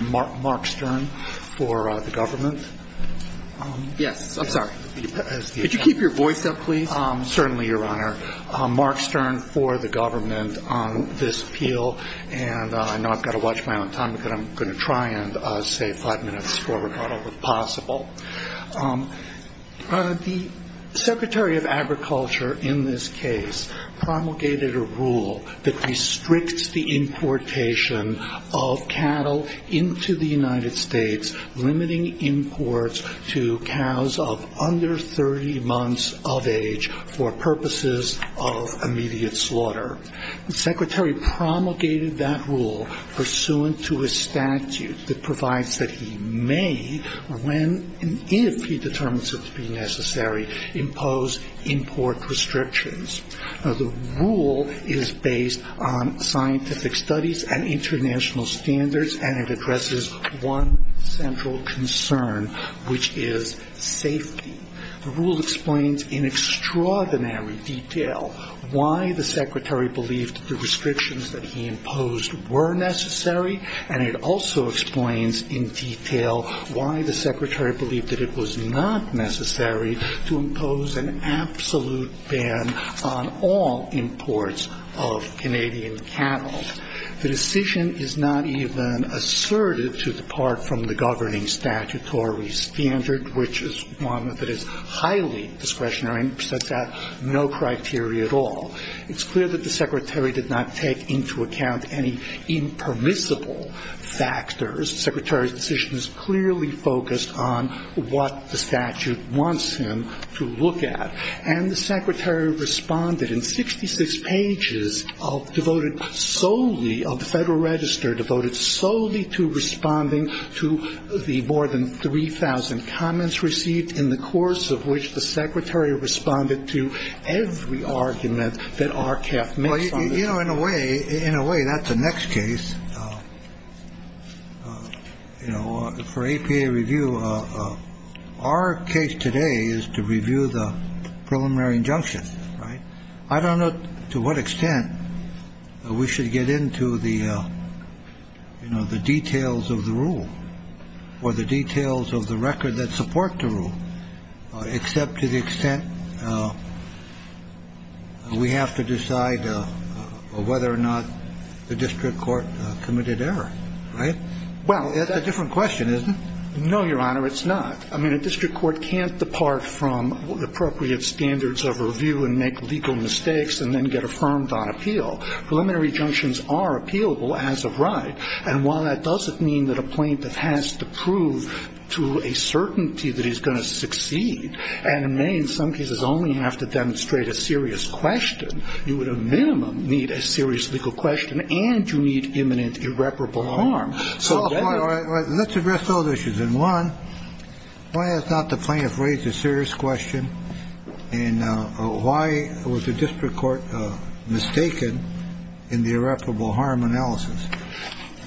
Mark Stern for the government. Yes, I'm sorry. Could you keep your voice up, please? Certainly, Your Honor. Mark Stern for the government on this appeal. And I know I've got to watch my own time, but I'm going to try and say five minutes before we're done if possible. The Secretary of Agriculture in this case promulgated a rule that restricts the importation of cattle into the United States, limiting imports to cows of under 30 months of age for purposes of immediate slaughter. The Secretary promulgated that rule pursuant to a statute that provides that he may, when and if he determines it to be necessary, impose import restrictions. Now, the rule is based on scientific studies and international standards, and it addresses one central concern, which is safety. The rule explains in extraordinary detail why the Secretary believed the restrictions that he imposed were necessary, and it also explains in detail why the Secretary believed that it was not necessary to impose an absolute ban on all imports of Canadian cattle. The decision is not even asserted to depart from the governing statutory standard, which is one that is highly discretionary and sets out no criteria at all. It's clear that the Secretary did not take into account any impermissible factors. The Secretary's decision is clearly focused on what the statute wants him to look at. And the Secretary responded in 66 pages devoted solely of the Federal Register, devoted solely to responding to the more than 3,000 comments received in the course of which the Secretary responded to every argument that RCAF made. Well, you know, in a way, in a way, that's the next case, you know, for APA review. Our case today is to review the preliminary injunction. Right. I don't know to what extent we should get into the, you know, the details of the rule or the details of the record that support the rule, except to the extent we have to decide whether or not the district court committed error, right? Well, that's a different question, isn't it? No, Your Honor, it's not. I mean, a district court can't depart from appropriate standards of review and make legal mistakes and then get affirmed on appeal. Preliminary injunctions are appealable as of right. And while that doesn't mean that a plaintiff has to prove to a certainty that he's going to succeed, and may in some cases only have to demonstrate a serious question, you would at minimum need a serious legal question and you need imminent irreparable harm. So let's address those issues. And one, why has not the plaintiff raised a serious question? And why was the district court mistaken in the irreparable harm analysis?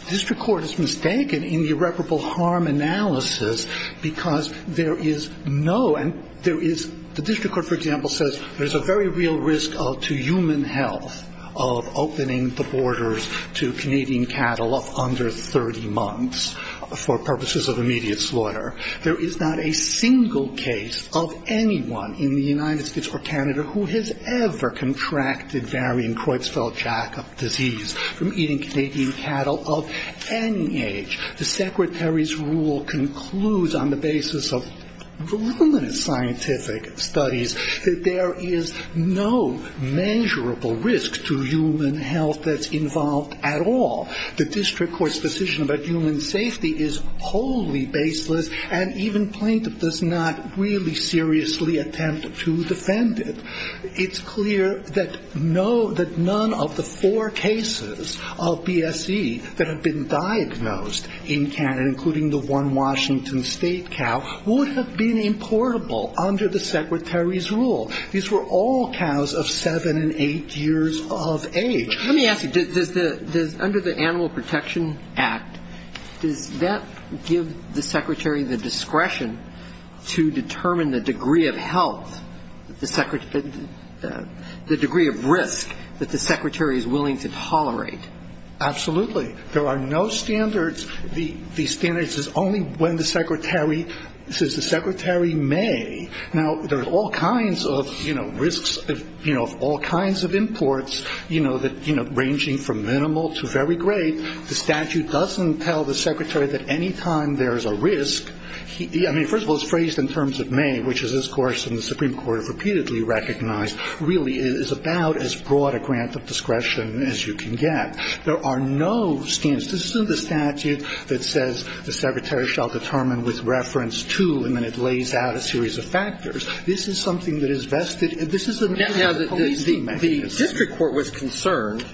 The district court is mistaken in the irreparable harm analysis because there is no, and there is, the district court, for example, says there's a very real risk to human health of opening the borders to Canadian cattle of under 30 months for purposes of immediate slaughter. There is not a single case of anyone in the United States or Canada who has ever contracted varying Creutzfeldt-Jakob disease from eating Canadian cattle of any age. The secretary's rule concludes on the basis of voluminous scientific studies that there is no measurable risk to human health that's involved at all. The district court's decision about human safety is wholly baseless, and even plaintiff does not really seriously attempt to defend it. It's clear that none of the four cases of BSE that have been diagnosed in Canada, including the one Washington State cow, would have been importable under the secretary's rule. These were all cows of seven and eight years of age. Let me ask you, does the, under the Animal Protection Act, does that give the secretary the discretion to determine the degree of health the degree of risk that the secretary is willing to tolerate? Absolutely. There are no standards. The standards is only when the secretary says the secretary may. Now, there are all kinds of, you know, risks, you know, of all kinds of imports, you know, ranging from minimal to very great. The statute doesn't tell the secretary that any time there's a risk, I mean, first of all, it's phrased in terms of may, which is, of course, in the Supreme Court, repeatedly recognized, really is about as broad a grant of discretion as you can get. There are no standards. This isn't a statute that says the secretary shall determine with reference to, and then it lays out a series of factors. This is something that is vested. This is a mechanism. The district court was concerned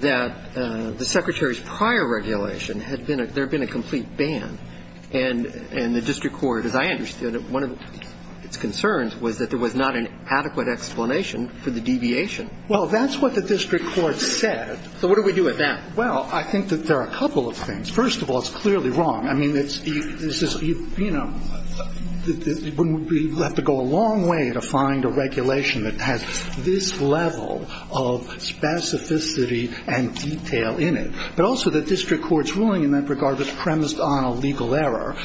that the secretary's prior regulation had been, there had been a complete ban, and the district court, as I understood it, one of its concerns was that there was not an adequate explanation for the deviation. Well, that's what the district court said. So what do we do with that? Well, I think that there are a couple of things. First of all, it's clearly wrong. I mean, it's, you know, we have to go a long way to find a regulation that has this level of specificity and detail in it. But also the district court's ruling in that regard was premised on a legal error,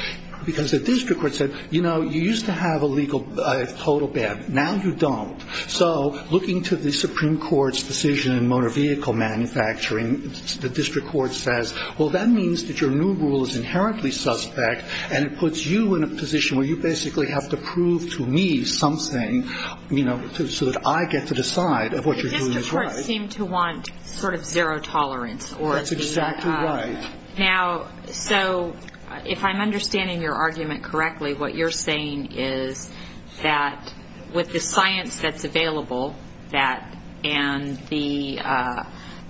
because the district court said, you know, you used to have a total ban. Now you don't. So looking to the Supreme Court's decision in motor vehicle manufacturing, the district court says, well, that means that your new rule is inherently suspect, and it puts you in a position where you basically have to prove to me something, you know, so that I get to decide if what you're doing is right. The district court seemed to want sort of zero tolerance. That's exactly right. Now, so if I'm understanding your argument correctly, what you're saying is that with the science that's available, and the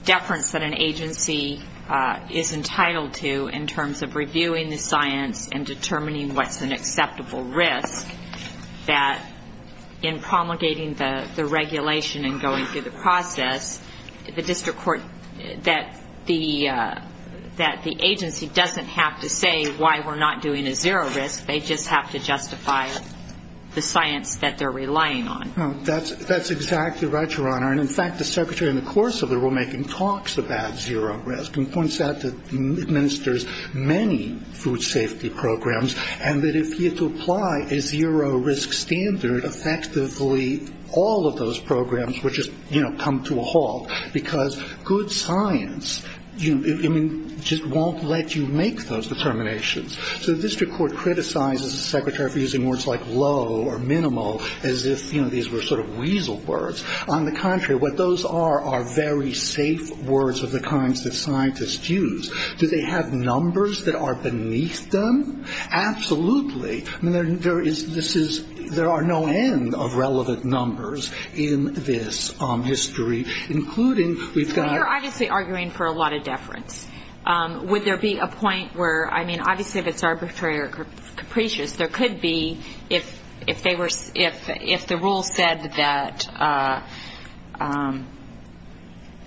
deference that an agency is entitled to in terms of reviewing the science and determining what's an acceptable risk, that in promulgating the regulation and going through the process, the district court, that the agency doesn't have to say why we're not doing a zero risk. They just have to justify the science that they're relying on. That's exactly right, Your Honor. And, in fact, the secretary in the course of the rulemaking talks about zero risk and points out that it administers many food safety programs, and that if you had to apply a zero risk standard, effectively all of those programs would just come to a halt because good science just won't let you make those determinations. So the district court criticizes the secretary for using words like low or minimal as if these were sort of weasel words. On the contrary, what those are are very safe words of the kinds that scientists use. Do they have numbers that are beneath them? Absolutely. I mean, there are no end of relevant numbers in this history, including we've got to Well, you're obviously arguing for a lot of deference. Would there be a point where, I mean, obviously if it's arbitrary or capricious, there could be if the rule said that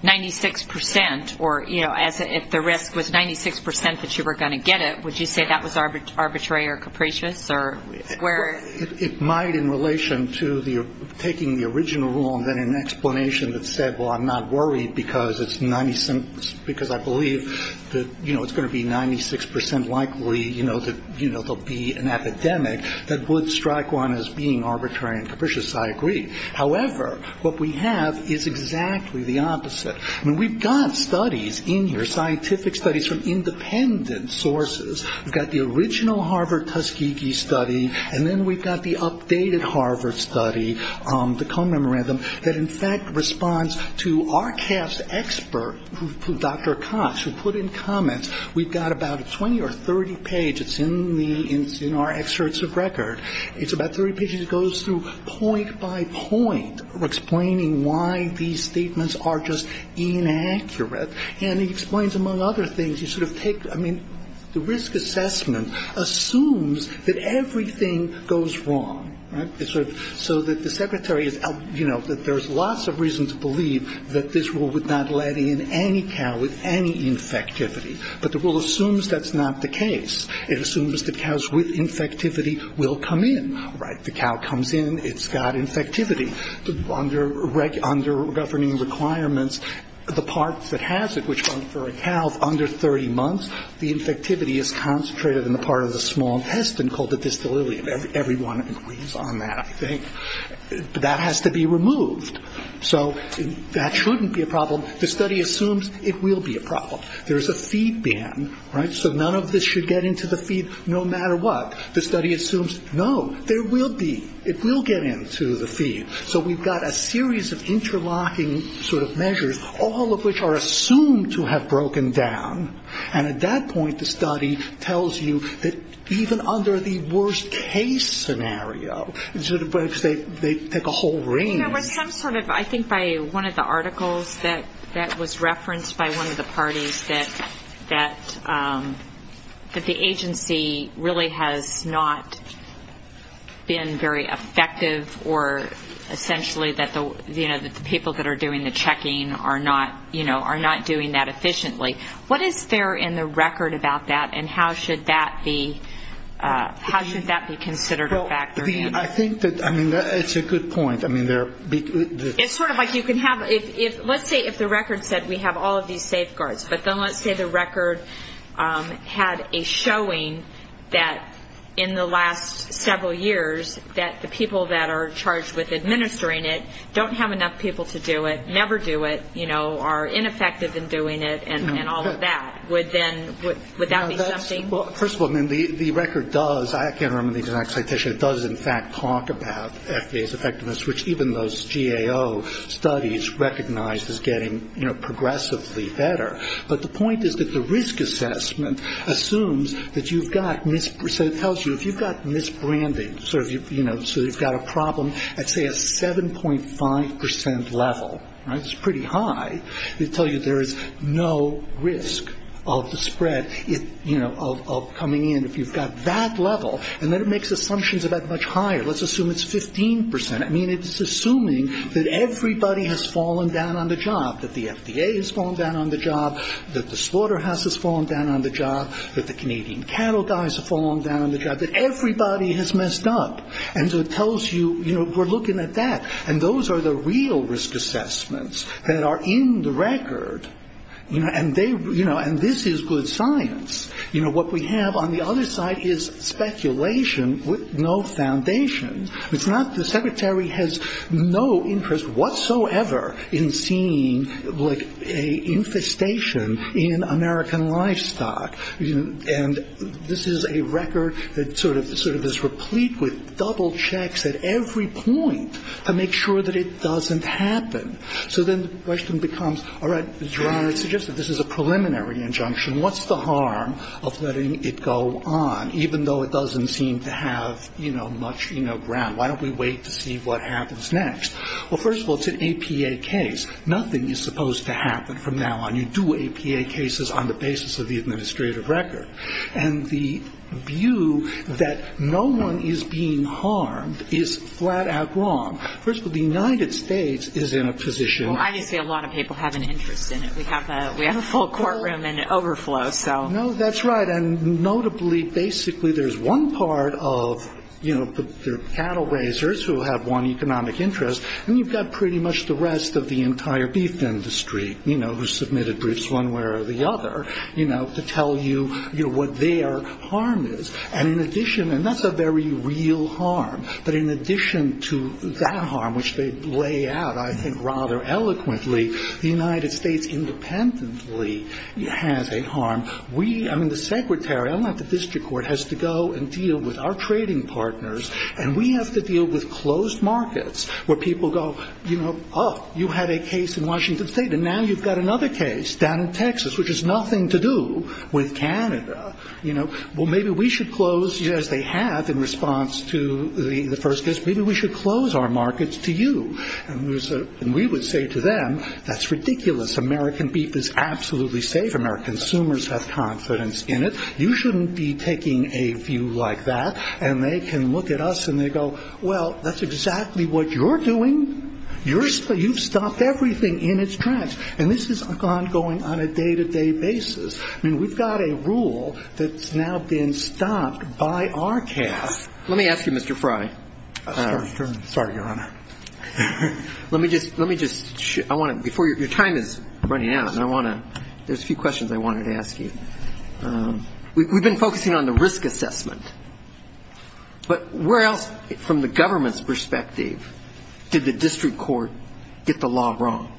96% or, you know, It might in relation to taking the original rule and then an explanation that said, well, I'm not worried because it's 96% because I believe that, you know, it's going to be 96% likely, you know, that there will be an epidemic that would strike one as being arbitrary and capricious. I agree. However, what we have is exactly the opposite. I mean, we've got studies in here, scientific studies from independent sources. We've got the original Harvard-Tuskegee study, and then we've got the updated Harvard study, the Cone Memorandum, that in fact responds to our cast expert, Dr. Cox, who put in comments, we've got about 20 or 30 pages in our excerpts of record. It's about 30 pages. It goes through point by point explaining why these statements are just inaccurate. And he explains, among other things, you sort of take, I mean, the risk assessment assumes that everything goes wrong, right? So that the secretary is, you know, that there's lots of reasons to believe that this rule would not let in any cow with any infectivity. But the rule assumes that's not the case. It assumes that cows with infectivity will come in, right? The cow comes in. It's got infectivity. The infectivity is concentrated in the part of the small intestine called the distal ilium. Everyone agrees on that, I think. But that has to be removed. So that shouldn't be a problem. The study assumes it will be a problem. There's a feed ban, right? So none of this should get into the feed no matter what. The study assumes, no, there will be. It will get into the feed. So we've got a series of interlocking sort of measures, all of which are assumed to have broken down. And at that point, the study tells you that even under the worst case scenario, they take a whole range. You know, there's some sort of, I think by one of the articles that was referenced by one of the parties, that the agency really has not been very effective, or essentially that the people that are doing the checking are not doing that efficiently. What is there in the record about that, and how should that be considered a factor? I think that, I mean, it's a good point. It's sort of like you can have, let's say if the record said we have all of these safeguards, but then let's say the record had a showing that in the last several years that the people that are charged with administering it don't have enough people to do it, never do it, you know, are ineffective in doing it, and all of that. Would that be something? Well, first of all, the record does, I can't remember the exact citation, it does in fact talk about FDA's effectiveness, which even those GAO studies recognize as getting progressively better. But the point is that the risk assessment assumes that you've got, so it tells you if you've got misbranding, sort of, you know, so you've got a problem at, say, a 7.5% level, right, it's pretty high, it tells you there is no risk of the spread, you know, of coming in if you've got that level. And then it makes assumptions about much higher. Let's assume it's 15%. I mean, it's assuming that everybody has fallen down on the job, that the FDA has fallen down on the job, that the slaughterhouse has fallen down on the job, that the Canadian cattle dies have fallen down on the job, that everybody has messed up. And so it tells you, you know, we're looking at that. And those are the real risk assessments that are in the record, you know, and they, you know, and this is good science. You know, what we have on the other side is speculation with no foundation. It's not, the secretary has no interest whatsoever in seeing, like, a infestation in American livestock. And this is a record that sort of is replete with double checks at every point to make sure that it doesn't happen. So then the question becomes, all right, it suggests that this is a preliminary injunction. What's the harm of letting it go on, even though it doesn't seem to have, you know, much, you know, ground? Why don't we wait to see what happens next? Well, first of all, it's an APA case. Nothing is supposed to happen from now on. You do APA cases on the basis of the administrative record. And the view that no one is being harmed is flat-out wrong. First of all, the United States is in a position. Well, obviously, a lot of people have an interest in it. We have a full courtroom in overflow, so. No, that's right. And notably, basically, there's one part of, you know, the cattle raisers who have one economic interest, and you've got pretty much the rest of the entire beef industry, you know, who submitted briefs one way or the other, you know, to tell you, you know, what their harm is. And in addition, and that's a very real harm, but in addition to that harm, which they lay out, I think, rather eloquently, the United States independently has a harm. We, I mean, the secretary, I'm not the district court, has to go and deal with our trading partners, and we have to deal with closed markets where people go, you know, oh, you had a case in Washington State, and now you've got another case down in Texas, which has nothing to do with Canada. You know, well, maybe we should close, as they have in response to the first case, maybe we should close our markets to you. And we would say to them, that's ridiculous. American beef is absolutely safe. American consumers have confidence in it. You shouldn't be taking a view like that, and they can look at us and they go, well, that's exactly what you're doing. You've stopped everything in its tracks. And this is ongoing on a day-to-day basis. I mean, we've got a rule that's now been stopped by our cast. Let me ask you, Mr. Fry. Sorry, Your Honor. Let me just, let me just, I want to, before your time is running out, and I want to, there's a few questions I wanted to ask you. We've been focusing on the risk assessment. But where else, from the government's perspective, did the district court get the law wrong?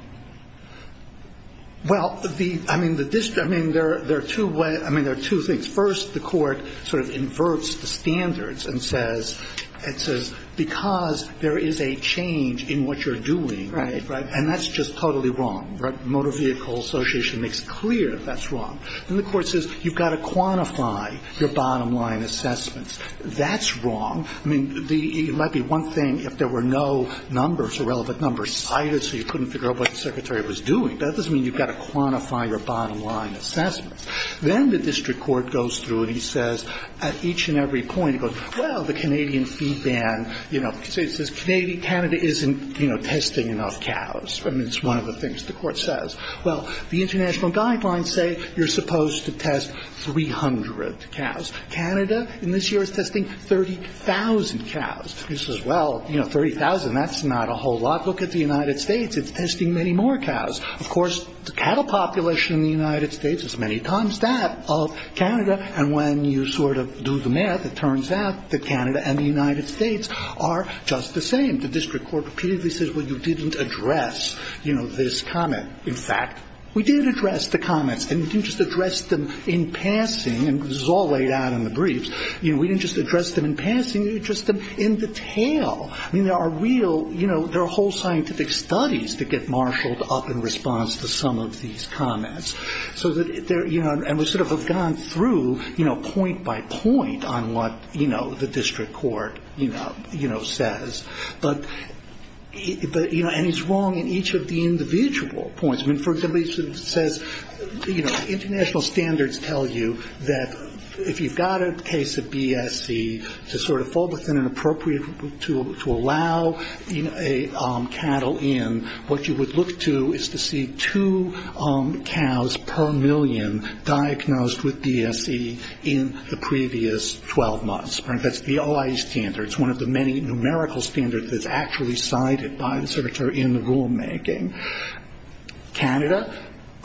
Well, the, I mean, the district, I mean, there are two ways, I mean, there are two things. First, the court sort of inverts the standards and says, it says, because there is a change in what you're doing. Right. And that's just totally wrong. Right. Motor Vehicle Association makes clear that's wrong. And the court says, you've got to quantify your bottom-line assessments. That's wrong. I mean, it might be one thing if there were no numbers or relevant numbers cited, so you couldn't figure out what the secretary was doing. But that doesn't mean you've got to quantify your bottom-line assessments. Then the district court goes through and he says, at each and every point, he goes, well, the Canadian feed ban, you know, he says, Canada isn't, you know, testing enough cows. I mean, it's one of the things the court says. Well, the international guidelines say you're supposed to test 300 cows. Canada in this year is testing 30,000 cows. He says, well, you know, 30,000, that's not a whole lot. Look at the United States. It's testing many more cows. Of course, the cattle population in the United States is many times that of Canada. And when you sort of do the math, it turns out that Canada and the United States are just the same. The district court repeatedly says, well, you didn't address, you know, this comment. In fact, we did address the comments. And we didn't just address them in passing, and this is all laid out in the briefs. You know, we didn't just address them in passing. We addressed them in detail. I mean, there are real, you know, there are whole scientific studies that get marshaled up in response to some of these comments. So that they're, you know, and we sort of have gone through, you know, point by point on what, you know, the district court, you know, says. But, you know, and it's wrong in each of the individual points. I mean, for instance, it says, you know, international standards tell you that if you've got a case of BSE to sort of fall within an appropriate, to allow cattle in, what you would look to is to see two cows per million diagnosed with BSE in the previous 12 months. That's the OIE standard. It's one of the many numerical standards that's actually cited by the certatory in the rulemaking. Canada,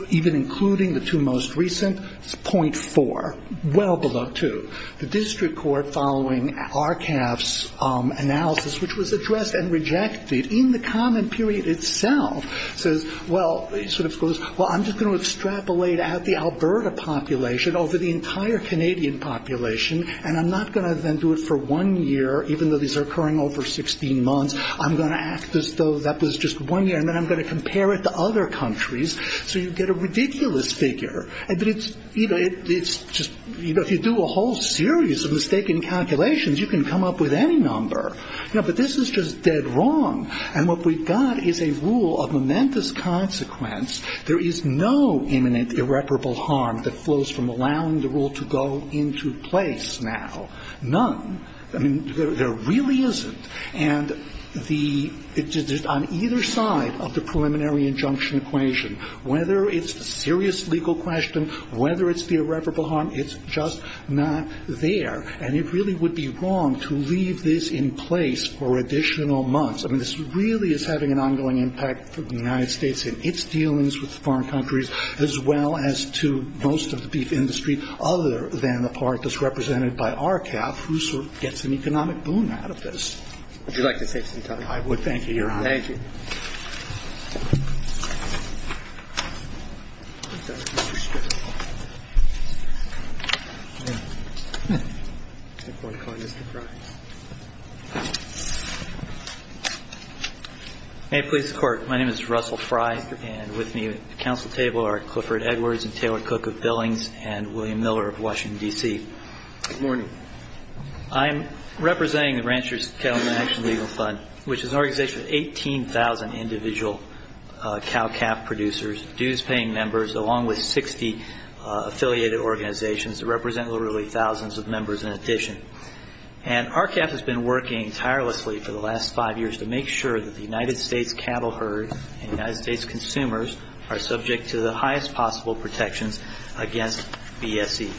even including the two most recent, is 0.4, well below 2. The district court, following RCAF's analysis, which was addressed and rejected in the comment period itself, says, well, sort of goes, well, I'm just going to extrapolate out the Alberta population over the entire Canadian population, and I'm not going to then do it for one year, even though these are occurring over 16 months. I'm going to act as though that was just one year, and then I'm going to compare it to other countries. So you get a ridiculous figure. But it's, you know, it's just, you know, if you do a whole series of mistaken calculations, you can come up with any number. You know, but this is just dead wrong. And what we've got is a rule of momentous consequence. There is no imminent irreparable harm that flows from allowing the rule to go into place now. None. I mean, there really isn't. And the – on either side of the preliminary injunction equation, whether it's a serious legal question, whether it's the irreparable harm, it's just not there. And it really would be wrong to leave this in place for additional months. I mean, this really is having an ongoing impact for the United States in its dealings with foreign countries, as well as to most of the beef industry, other than the part that's represented by RCAF, who sort of gets an economic boom out of this. Would you like to take some time? I would. Thank you, Your Honor. Thank you. May it please the Court. My name is Russell Fry, and with me at the Council table are Clifford Edwards and Taylor Cook of Billings and William Miller of Washington, D.C. Good morning. I'm representing the Rancher's Cattleman Action Legal Fund, which is an organization of 18,000 individual cow-calf producers, dues-paying members, along with 60 affiliated organizations that represent literally thousands of members in addition. And RCAF has been working tirelessly for the last five years to make sure that the United States cattle herd and United States consumers are subject to the highest possible protections against BSE.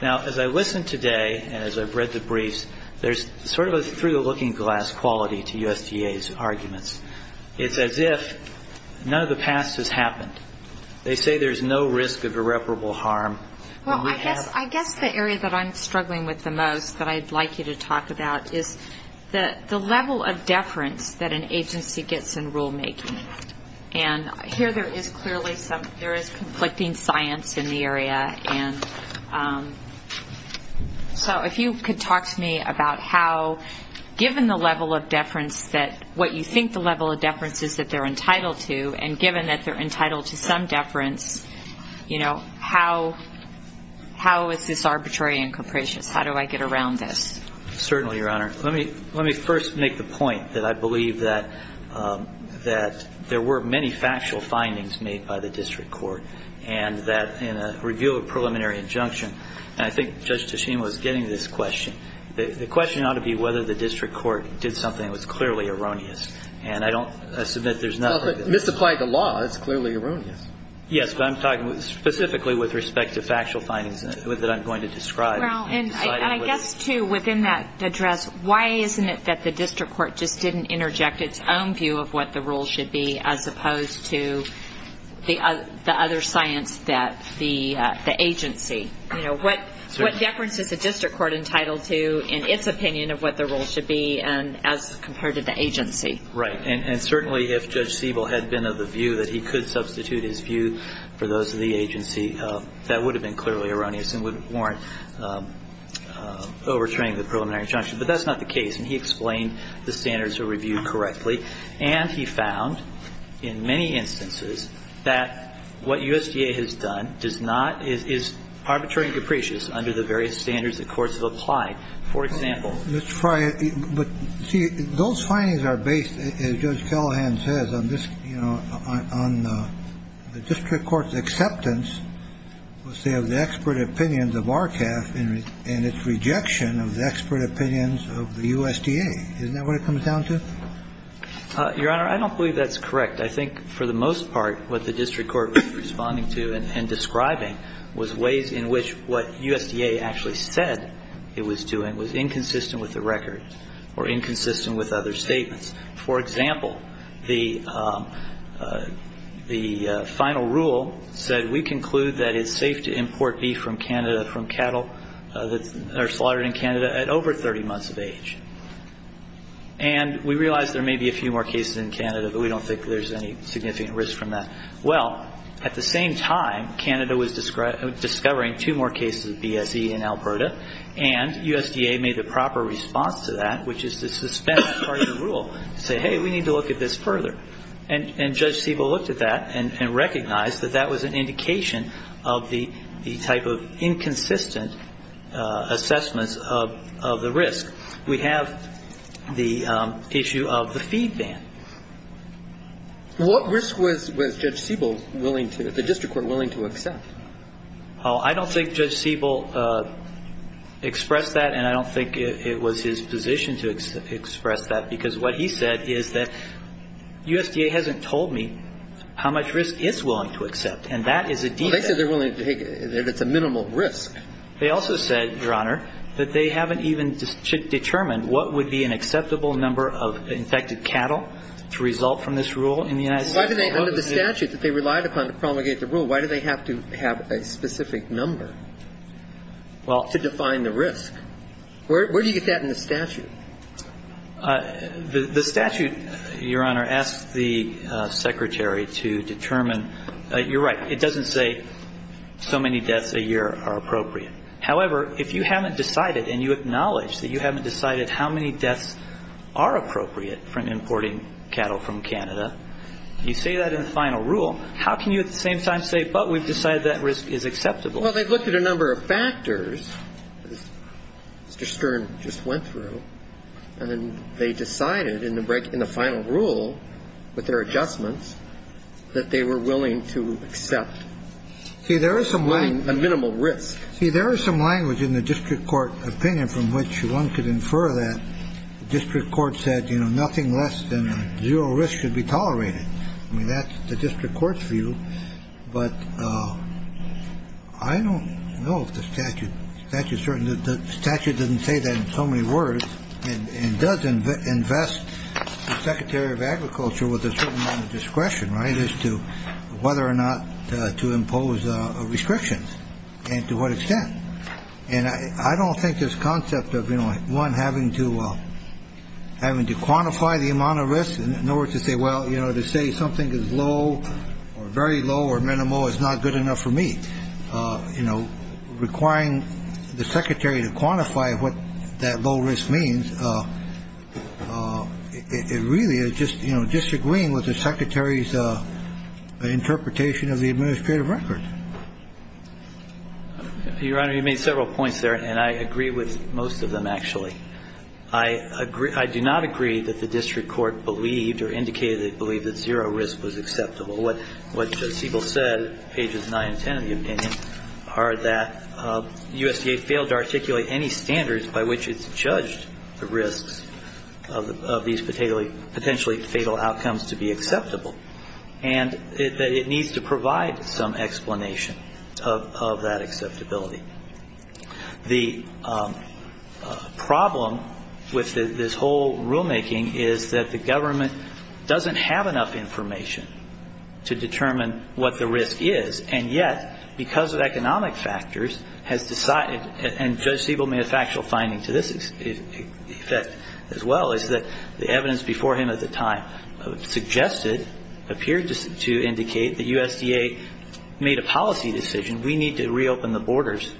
Now, as I listened today and as I've read the briefs, there's sort of a through-the-looking-glass quality to USDA's arguments. It's as if none of the past has happened. They say there's no risk of irreparable harm. Well, I guess the area that I'm struggling with the most that I'd like you to talk about is the level of deference that an agency gets in rulemaking. And here there is clearly some conflicting science in the area. So if you could talk to me about how, given the level of deference that what you think the level of deference is that they're entitled to, and given that they're entitled to some deference, you know, how is this arbitrary and capricious? How do I get around this? Certainly, Your Honor. Let me first make the point that I believe that there were many factual findings made by the district court and that in a review of a preliminary injunction, and I think Judge Teshima was getting to this question, the question ought to be whether the district court did something that was clearly erroneous. And I don't assume that there's nothing. Well, if it misapplied the law, it's clearly erroneous. Yes, but I'm talking specifically with respect to factual findings that I'm going to describe. Well, and I guess, too, within that address, why isn't it that the district court just didn't interject its own view of what the rule should be as opposed to the other science that the agency, you know, what deference is the district court entitled to in its opinion of what the rule should be as compared to the agency? Right. And certainly if Judge Siebel had been of the view that he could substitute his view for those of the agency, that would have been clearly erroneous and would warrant overturning the preliminary injunction. But that's not the case. And he explained the standards of review correctly. And he found in many instances that what USDA has done does not – is arbitrary and capricious under the various standards the courts have applied. For example – Let's try it. But, see, those findings are based, as Judge Callahan says, on this, you know, on the district court's acceptance, let's say, of the expert opinions of RCAF and its rejection of the expert opinions of the USDA. Isn't that what it comes down to? Your Honor, I don't believe that's correct. I think for the most part what the district court was responding to and describing was ways in which what USDA actually said it was doing was inconsistent with the record or inconsistent with other statements. For example, the final rule said, we conclude that it's safe to import beef from Canada from cattle that are slaughtered in Canada at over 30 months of age. And we realize there may be a few more cases in Canada, but we don't think there's any significant risk from that. Well, at the same time, Canada was discovering two more cases of BSE in Alberta, and USDA made the proper response to that, which is to suspend part of the rule, to say, hey, we need to look at this further. And Judge Siebel looked at that and recognized that that was an indication of the type of inconsistent assessments of the risk. We have the issue of the feed ban. What risk was Judge Siebel willing to, the district court willing to accept? Well, I don't think Judge Siebel expressed that, and I don't think it was his position to express that, because what he said is that USDA hasn't told me how much risk it's willing to accept, and that is a defect. Well, they said they're willing to take it if it's a minimal risk. They also said, Your Honor, that they haven't even determined what would be an acceptable number of infected cattle to result from this rule in the United States. Under the statute that they relied upon to promulgate the rule, why do they have to have a specific number to define the risk? Where do you get that in the statute? The statute, Your Honor, asks the Secretary to determine. You're right. It doesn't say so many deaths a year are appropriate. However, if you haven't decided and you acknowledge that you haven't decided how many deaths are appropriate for importing cattle from Canada, you say that in the final rule, how can you at the same time say, But we've decided that risk is acceptable? Well, they've looked at a number of factors, as Mr. Stern just went through, and then they decided in the final rule with their adjustments that they were willing to accept a minimal risk. See, there is some language in the district court opinion from which one could infer that the district court said, You know, nothing less than zero risk should be tolerated. I mean, that's the district court's view. But I don't know if the statute is certain. The statute doesn't say that in so many words and doesn't invest the Secretary of Agriculture with a certain amount of discretion, right, as to whether or not to impose restrictions and to what extent. And I don't think this concept of, you know, one, having to quantify the amount of risk in order to say, Well, you know, to say something is low or very low or minimal is not good enough for me. You know, requiring the Secretary to quantify what that low risk means, it really is just, you know, disagreeing with the Secretary's interpretation of the administrative record. Your Honor, you made several points there, and I agree with most of them, actually. I do not agree that the district court believed or indicated they believed that zero risk was acceptable. What Siebel said, pages 9 and 10 of the opinion, are that USDA failed to articulate any standards by which it's judged the risks of these potentially fatal outcomes to be acceptable and that it needs to provide some explanation of that acceptability. The problem with this whole rulemaking is that the government doesn't have enough information to determine what the risk is, and yet, because of economic factors, has decided, and Judge Siebel made a factual finding to this effect as well, is that the evidence before him at the time suggested, appeared to indicate that USDA made a policy decision, we need to reopen the borders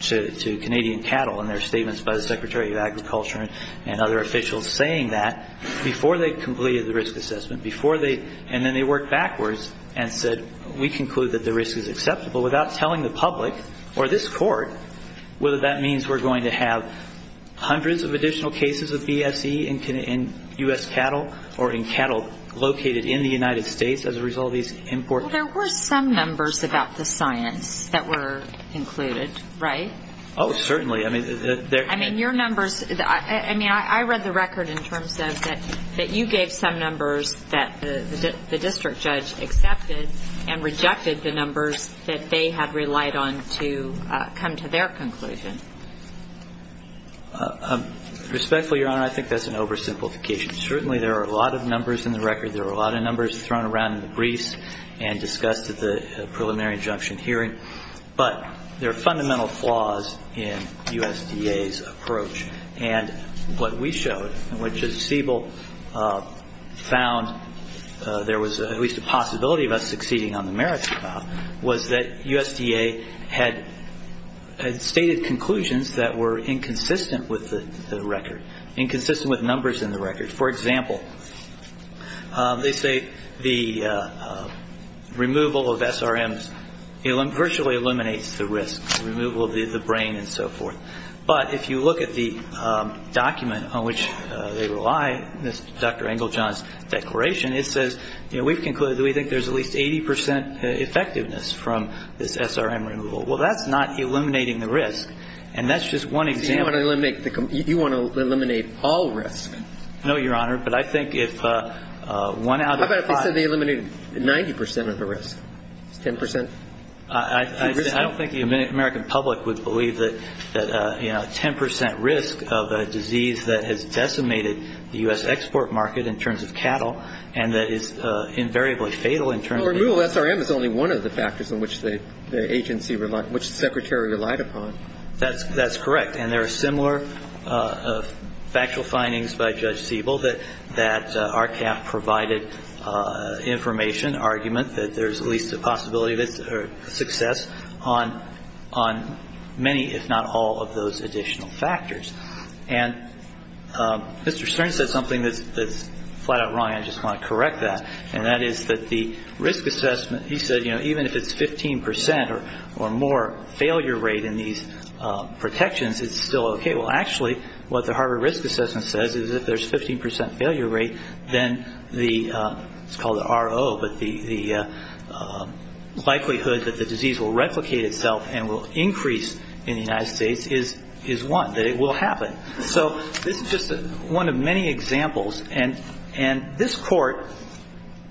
to Canadian cattle, and there are statements by the Secretary of Agriculture and other officials saying that, before they completed the risk assessment, and then they worked backwards and said, We conclude that the risk is acceptable without telling the public or this court whether that means we're going to have hundreds of additional cases of BSE in U.S. cattle or in cattle located in the United States as a result of these import... Well, there were some numbers about the science that were included, right? Oh, certainly. I mean... I mean, your numbers... I mean, I read the record in terms of that you gave some numbers that the district judge accepted and rejected the numbers that they had relied on to come to their conclusion. Respectfully, Your Honor, I think that's an oversimplification. Certainly, there are a lot of numbers in the record. There are a lot of numbers thrown around in the briefs and discussed at the preliminary injunction hearing. But there are fundamental flaws in USDA's approach. And what we showed, and what Judge Siebel found there was at least a possibility of us succeeding on the merits trial, was that USDA had stated conclusions that were inconsistent with the record, inconsistent with numbers in the record. For example, they say the removal of SRMs virtually eliminates the risk, the removal of the brain and so forth. But if you look at the document on which they rely, Dr. Engeljohn's declaration, it says we've concluded that we think there's at least 80 percent effectiveness from this SRM removal. Well, that's not eliminating the risk, and that's just one example. So you want to eliminate all risk? No, Your Honor, but I think if one out of five... How about if they said they eliminated 90 percent of the risk, 10 percent? I don't think the American public would believe that 10 percent risk of a disease that has decimated the U.S. export market in terms of cattle and that is invariably fatal in terms of... Well, removal of SRM is only one of the factors in which the agency relied, which the Secretary relied upon. That's correct. And there are similar factual findings by Judge Siebel that RCAF provided information, argument that there's at least a possibility of success on many, if not all, of those additional factors. And Mr. Stern said something that's flat out wrong, and I just want to correct that, and that is that the risk assessment, he said, you know, even if it's 15 percent or more failure rate in these protections, it's still okay. Well, actually, what the Harvard Risk Assessment says is if there's 15 percent failure rate, then the... it's called the RO, but the likelihood that the disease will replicate itself and will increase in the United States is one, that it will happen. So this is just one of many examples, and this Court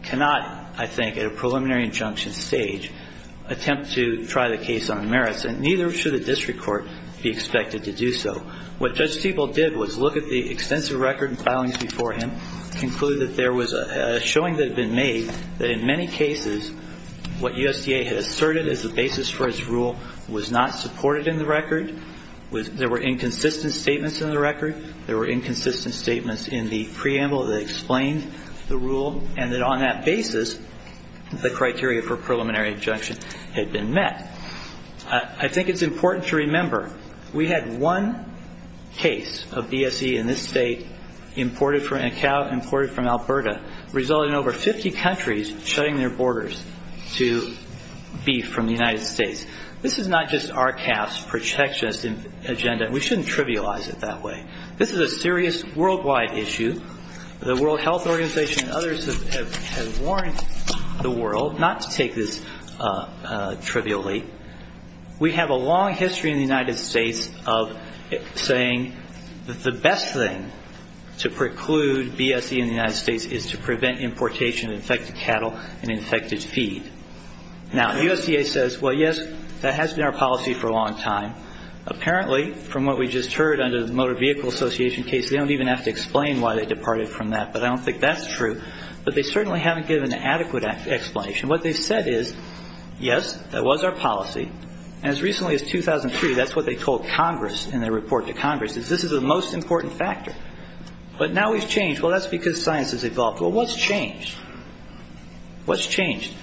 cannot, I think, at a preliminary injunction stage attempt to try the case on merits, and neither should a district court be expected to do so. What Judge Siebel did was look at the extensive record and filings before him, conclude that there was a showing that had been made that in many cases what USDA had asserted as the basis for its rule was not supported in the record, there were inconsistent statements in the record, there were inconsistent statements in the preamble that explained the rule, and that on that basis the criteria for preliminary injunction had been met. I think it's important to remember we had one case of BSE in this state imported from... This is not just RCAP's protectionist agenda, and we shouldn't trivialize it that way. This is a serious worldwide issue. The World Health Organization and others have warned the world not to take this trivially. We have a long history in the United States of saying that the best thing to preclude BSE in the United States is to prevent importation of infected cattle and infected feed. Now, USDA says, well, yes, that has been our policy for a long time. Apparently, from what we just heard under the Motor Vehicle Association case, they don't even have to explain why they departed from that, but I don't think that's true. But they certainly haven't given an adequate explanation. What they've said is, yes, that was our policy, and as recently as 2003, that's what they told Congress in their report to Congress, is this is the most important factor. But now we've changed. Well, that's because science has evolved. Well, what's changed? What's changed?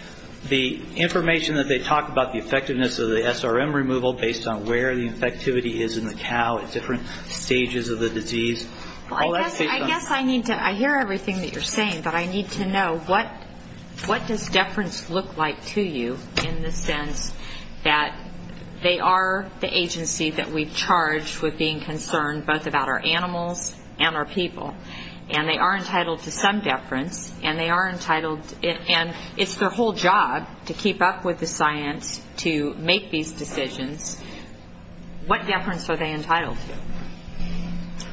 The information that they talk about the effectiveness of the SRM removal based on where the infectivity is in the cow at different stages of the disease. Well, I guess I need to, I hear everything that you're saying, but I need to know what does deference look like to you in the sense that they are the agency that we've charged with being concerned both about our animals and our people, and they are entitled to some deference, and they are entitled, and it's their whole job to keep up with the science to make these decisions. What deference are they entitled to?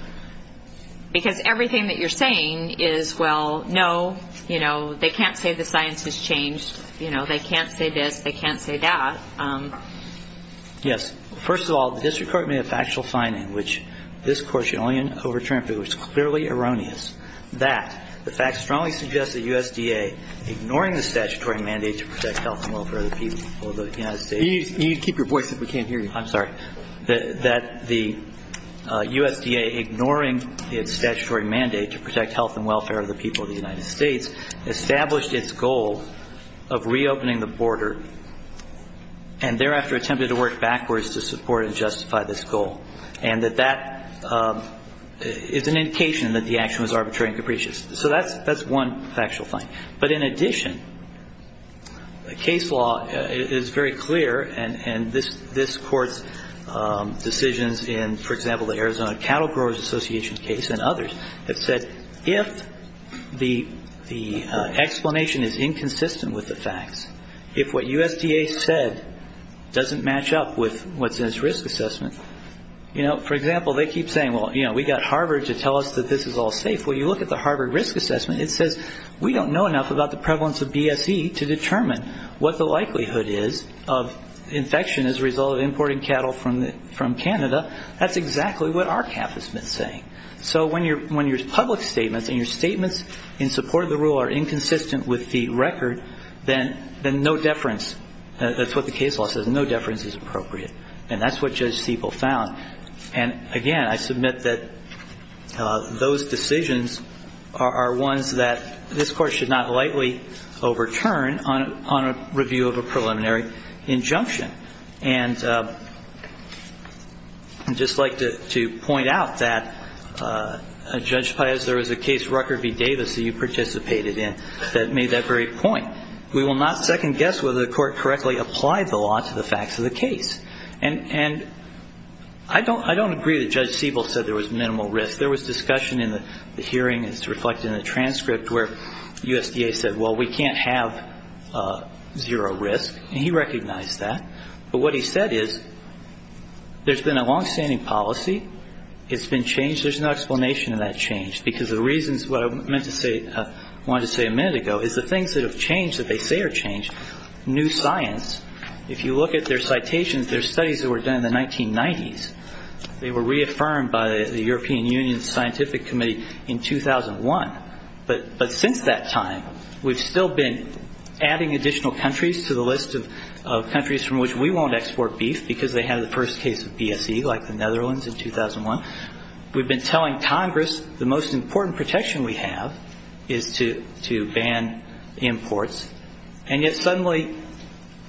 Because everything that you're saying is, well, no, they can't say the science has changed. They can't say this. They can't say that. Yes. First of all, the district court made a factual finding, in which this court's opinion overturned, but it was clearly erroneous, that the fact strongly suggests that USDA, ignoring the statutory mandate to protect health and welfare of the people of the United States. You need to keep your voice up. We can't hear you. I'm sorry. That the USDA, ignoring its statutory mandate to protect health and welfare of the people of the United States, established its goal of reopening the border and thereafter attempted to work backwards to support and justify this goal. And that that is an indication that the action was arbitrary and capricious. So that's one factual finding. But in addition, the case law is very clear, and this court's decisions in, for example, the Arizona Cattle Growers Association case and others, have said if the explanation is inconsistent with the facts, if what USDA said doesn't match up with what's in its risk assessment, you know, for example, they keep saying, well, you know, we got Harvard to tell us that this is all safe. Well, you look at the Harvard risk assessment. It says we don't know enough about the prevalence of BSE to determine what the likelihood is of infection as a result of importing cattle from Canada. That's exactly what RCAP has been saying. So when your public statements and your statements in support of the rule are inconsistent with the record, then no deference, that's what the case law says, no deference is appropriate. And that's what Judge Siebel found. And, again, I submit that those decisions are ones that this court should not lightly overturn on a review of a preliminary injunction. And I'd just like to point out that, Judge Paez, there was a case, Rucker v. Davis, that you participated in that made that very point. We will not second-guess whether the court correctly applied the law to the facts of the case. And I don't agree that Judge Siebel said there was minimal risk. There was discussion in the hearing, as reflected in the transcript, where USDA said, well, we can't have zero risk. And he recognized that. But what he said is there's been a longstanding policy. It's been changed. There's no explanation of that change because the reasons what I meant to say, wanted to say a minute ago, is the things that have changed that they say are changed, new science, if you look at their citations, their studies that were done in the 1990s, they were reaffirmed by the European Union Scientific Committee in 2001. But since that time, we've still been adding additional countries to the list of countries from which we won't export beef because they had the first case of BSE, like the Netherlands in 2001. We've been telling Congress the most important protection we have is to ban imports. And yet suddenly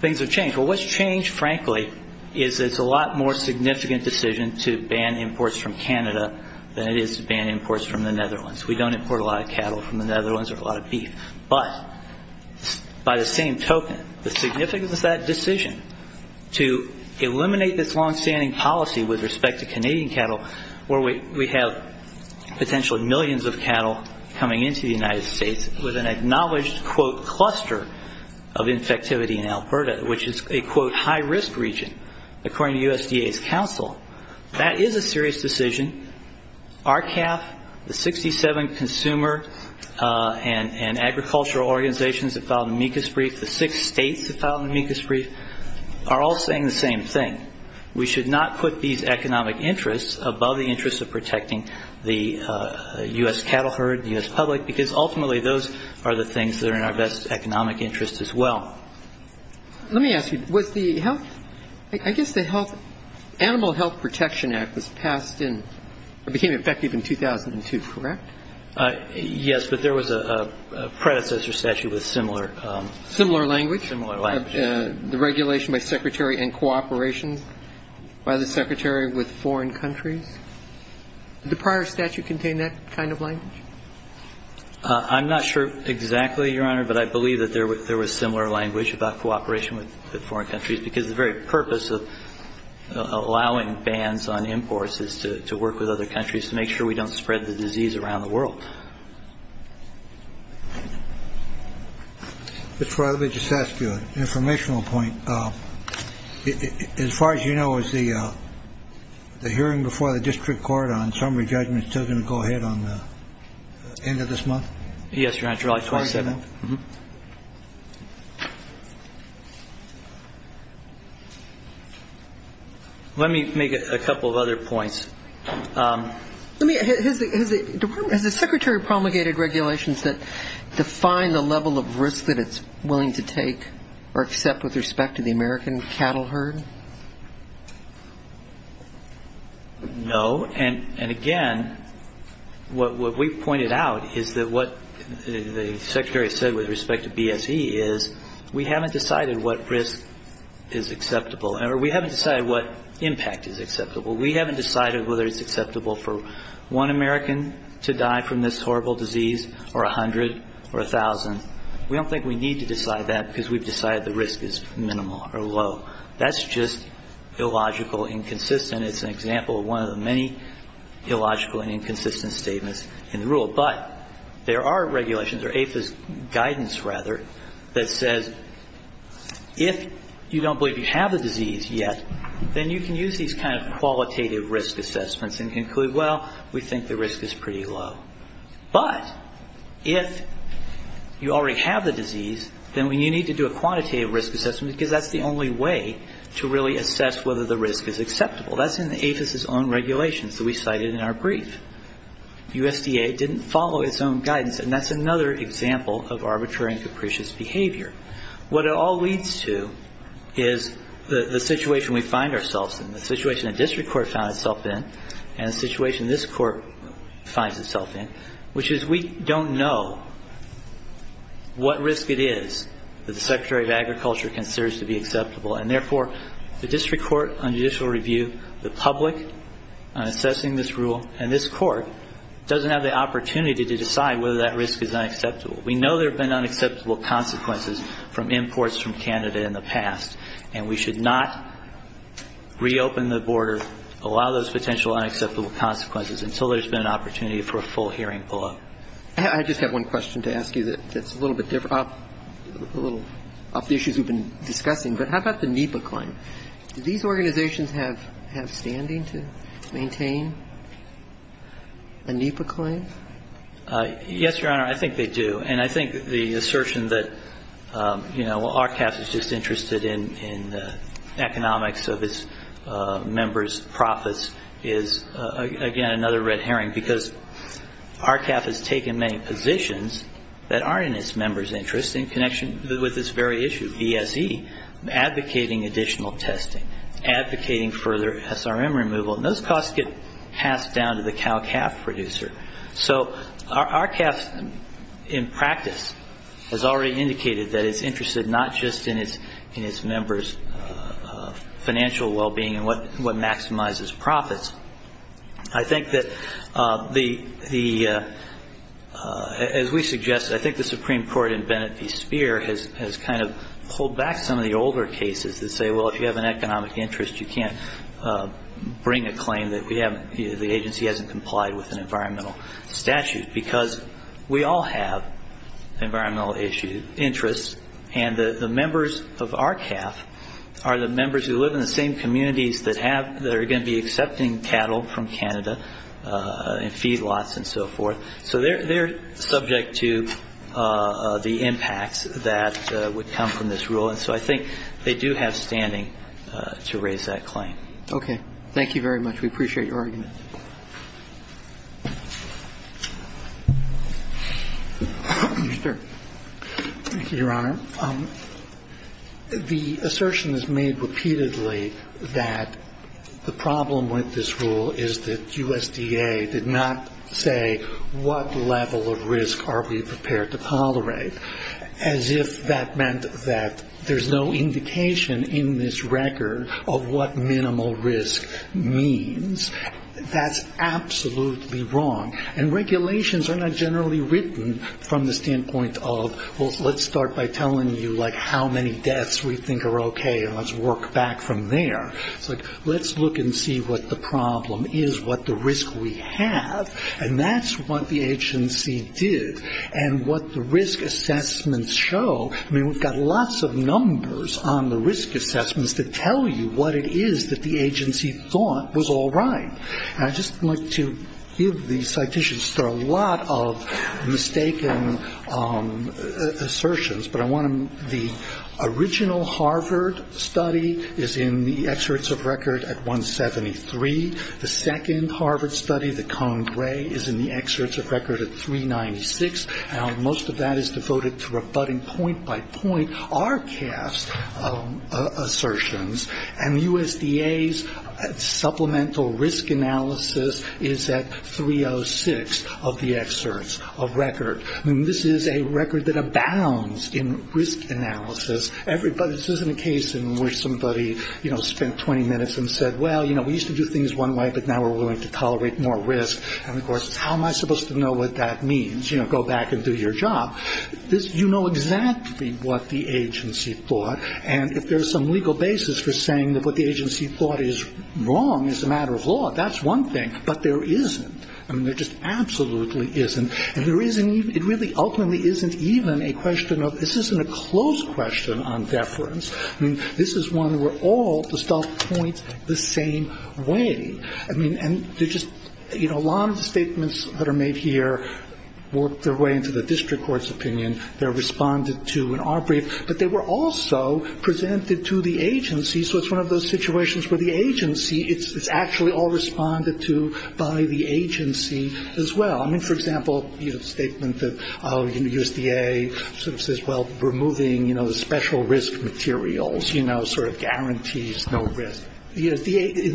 things have changed. Well, what's changed, frankly, is it's a lot more significant decision to ban imports from Canada than it is to ban imports from the Netherlands. We don't import a lot of cattle from the Netherlands or a lot of beef. But by the same token, the significance of that decision to eliminate this longstanding policy with respect to Canadian cattle, where we have potentially millions of cattle coming into the United States with an acknowledged, quote, cluster of infectivity in Alberta, which is a, quote, high-risk region, according to USDA's counsel, that is a serious decision. RCAF, the 67 consumer and agricultural organizations that filed the MECAS brief, the six states that filed the MECAS brief, are all saying the same thing. We should not put these economic interests above the interests of protecting the U.S. cattle herd, the U.S. public, because ultimately those are the things that are in our best economic interest as well. Let me ask you, was the health – I guess the health – Animal Health Protection Act was passed in – became effective in 2002, correct? Yes, but there was a predecessor statute with similar – Similar language. Similar language. The regulation by Secretary and cooperation by the Secretary with foreign countries. Did the prior statute contain that kind of language? I'm not sure exactly, Your Honor, but I believe that there was similar language about cooperation with foreign countries because the very purpose of allowing bans on imports is to work with other countries to make sure we don't spread the disease around the world. Mr. Farrelly, let me just ask you an informational point. As far as you know, is the hearing before the district court on summary judgment still going to go ahead on the end of this month? Yes, Your Honor, July 27th. Let me make a couple of other points. Has the Secretary promulgated regulations that define the level of risk that it's willing to take or accept with respect to the American cattle herd? No, and again, what we pointed out is that what the Secretary said with respect to BSE is we haven't decided what risk is acceptable, or we haven't decided what impact is acceptable. We haven't decided whether it's acceptable for one American to die from this horrible disease or 100 or 1,000. We don't think we need to decide that because we've decided the risk is minimal or low. That's just illogical, inconsistent. It's an example of one of the many illogical and inconsistent statements in the rule. But there are regulations, or APHA's guidance, rather, that says if you don't believe you have the disease yet, then you can use these kind of qualitative risk assessments and conclude, well, we think the risk is pretty low. But if you already have the disease, then you need to do a quantitative risk assessment because that's the only way to really assess whether the risk is acceptable. That's in APHA's own regulations that we cited in our brief. USDA didn't follow its own guidance, and that's another example of arbitrary and capricious behavior. What it all leads to is the situation we find ourselves in, the situation a district court finds itself in, and the situation this court finds itself in, which is we don't know what risk it is that the Secretary of Agriculture considers to be acceptable, and therefore the district court on judicial review, the public assessing this rule, and this court doesn't have the opportunity to decide whether that risk is unacceptable. We know there have been unacceptable consequences from imports from Canada in the past, and we should not reopen the border, allow those potential unacceptable consequences, until there's been an opportunity for a full hearing pull-up. I just have one question to ask you that's a little bit different, a little off the issues we've been discussing. But how about the NEPA claim? Do these organizations have standing to maintain a NEPA claim? Yes, Your Honor, I think they do. And I think the assertion that, you know, because RCAF has taken many positions that aren't in its members' interest in connection with this very issue, BSE, advocating additional testing, advocating further SRM removal, and those costs get passed down to the cow-calf producer. So RCAF, in practice, has already indicated that it's interested not just in its members' financial well-being and what maximizes profits. I think that the – as we suggest, I think the Supreme Court in Bennett v. Speer has kind of pulled back some of the older cases that say, well, if you have an economic interest, you can't bring a claim that we haven't – the agency hasn't complied with an environmental statute, because we all have environmental interests, and the members of RCAF are the members who live in the same communities that have – that are going to be accepting cattle from Canada and feed lots and so forth. So they're subject to the impacts that would come from this rule. And so I think they do have standing to raise that claim. Okay. Thank you very much. We appreciate your argument. Thank you, Your Honor. The assertion is made repeatedly that the problem with this rule is that USDA did not say, what level of risk are we prepared to tolerate, as if that meant that there's no indication in this record of what minimal risk means. That's absolutely wrong. And regulations are not generally written from the standpoint of, well, let's start by telling you, like, how many deaths we think are okay and let's work back from there. It's like, let's look and see what the problem is, what the risk we have, and that's what the agency did. And what the risk assessments show – I mean, we've got lots of numbers on the risk assessments that tell you what it is that the agency thought was all right. And I'd just like to give the citations. There are a lot of mistaken assertions, but I want to – the original Harvard study is in the excerpts of record at 173. The second Harvard study, the Cone Gray, is in the excerpts of record at 396. Now, most of that is devoted to rebutting point by point RCAF's assertions, and the USDA's supplemental risk analysis is at 306 of the excerpts of record. I mean, this is a record that abounds in risk analysis. This isn't a case in which somebody, you know, spent 20 minutes and said, well, you know, we used to do things one way, but now we're willing to tolerate more risk. And, of course, how am I supposed to know what that means? You know, go back and do your job. You know exactly what the agency thought, and if there's some legal basis for saying that what the agency thought is wrong is a matter of law, that's one thing, but there isn't. I mean, there just absolutely isn't. And it really ultimately isn't even a question of – this isn't a close question on deference. I mean, this is one where all the stuff points the same way. I mean, a lot of the statements that are made here work their way into the district court's opinion. They're responded to in our brief, but they were also presented to the agency, so it's one of those situations where the agency – it's actually all responded to by the agency as well. I mean, for example, the statement that USDA sort of says, well, removing special risk materials, you know, sort of guarantees no risk. In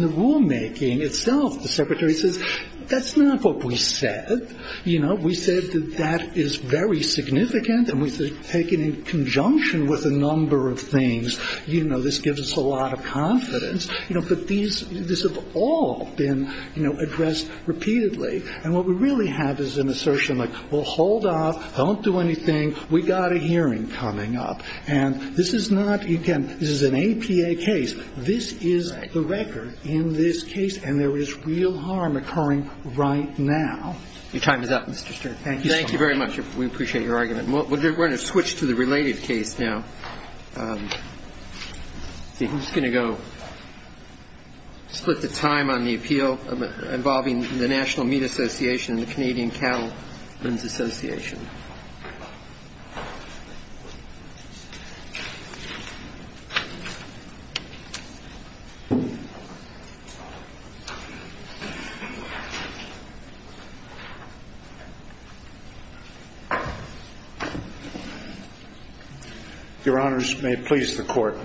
the rulemaking itself, the secretary says, that's not what we said. You know, we said that that is very significant, and we said take it in conjunction with a number of things. You know, this gives us a lot of confidence. You know, but these – this has all been, you know, addressed repeatedly. And what we really have is an assertion like, well, hold off, don't do anything, we've got a hearing coming up. And this is not – again, this is an APA case. This is the record in this case, and there is real harm occurring right now. Your time is up, Mr. Stewart. Thank you so much. Thank you very much. We appreciate your argument. We're going to switch to the related case now. I'm just going to go split the time on the appeal involving the National Meat Association and the Canadian Cattlemen's Association. Your Honours, may it please the Court.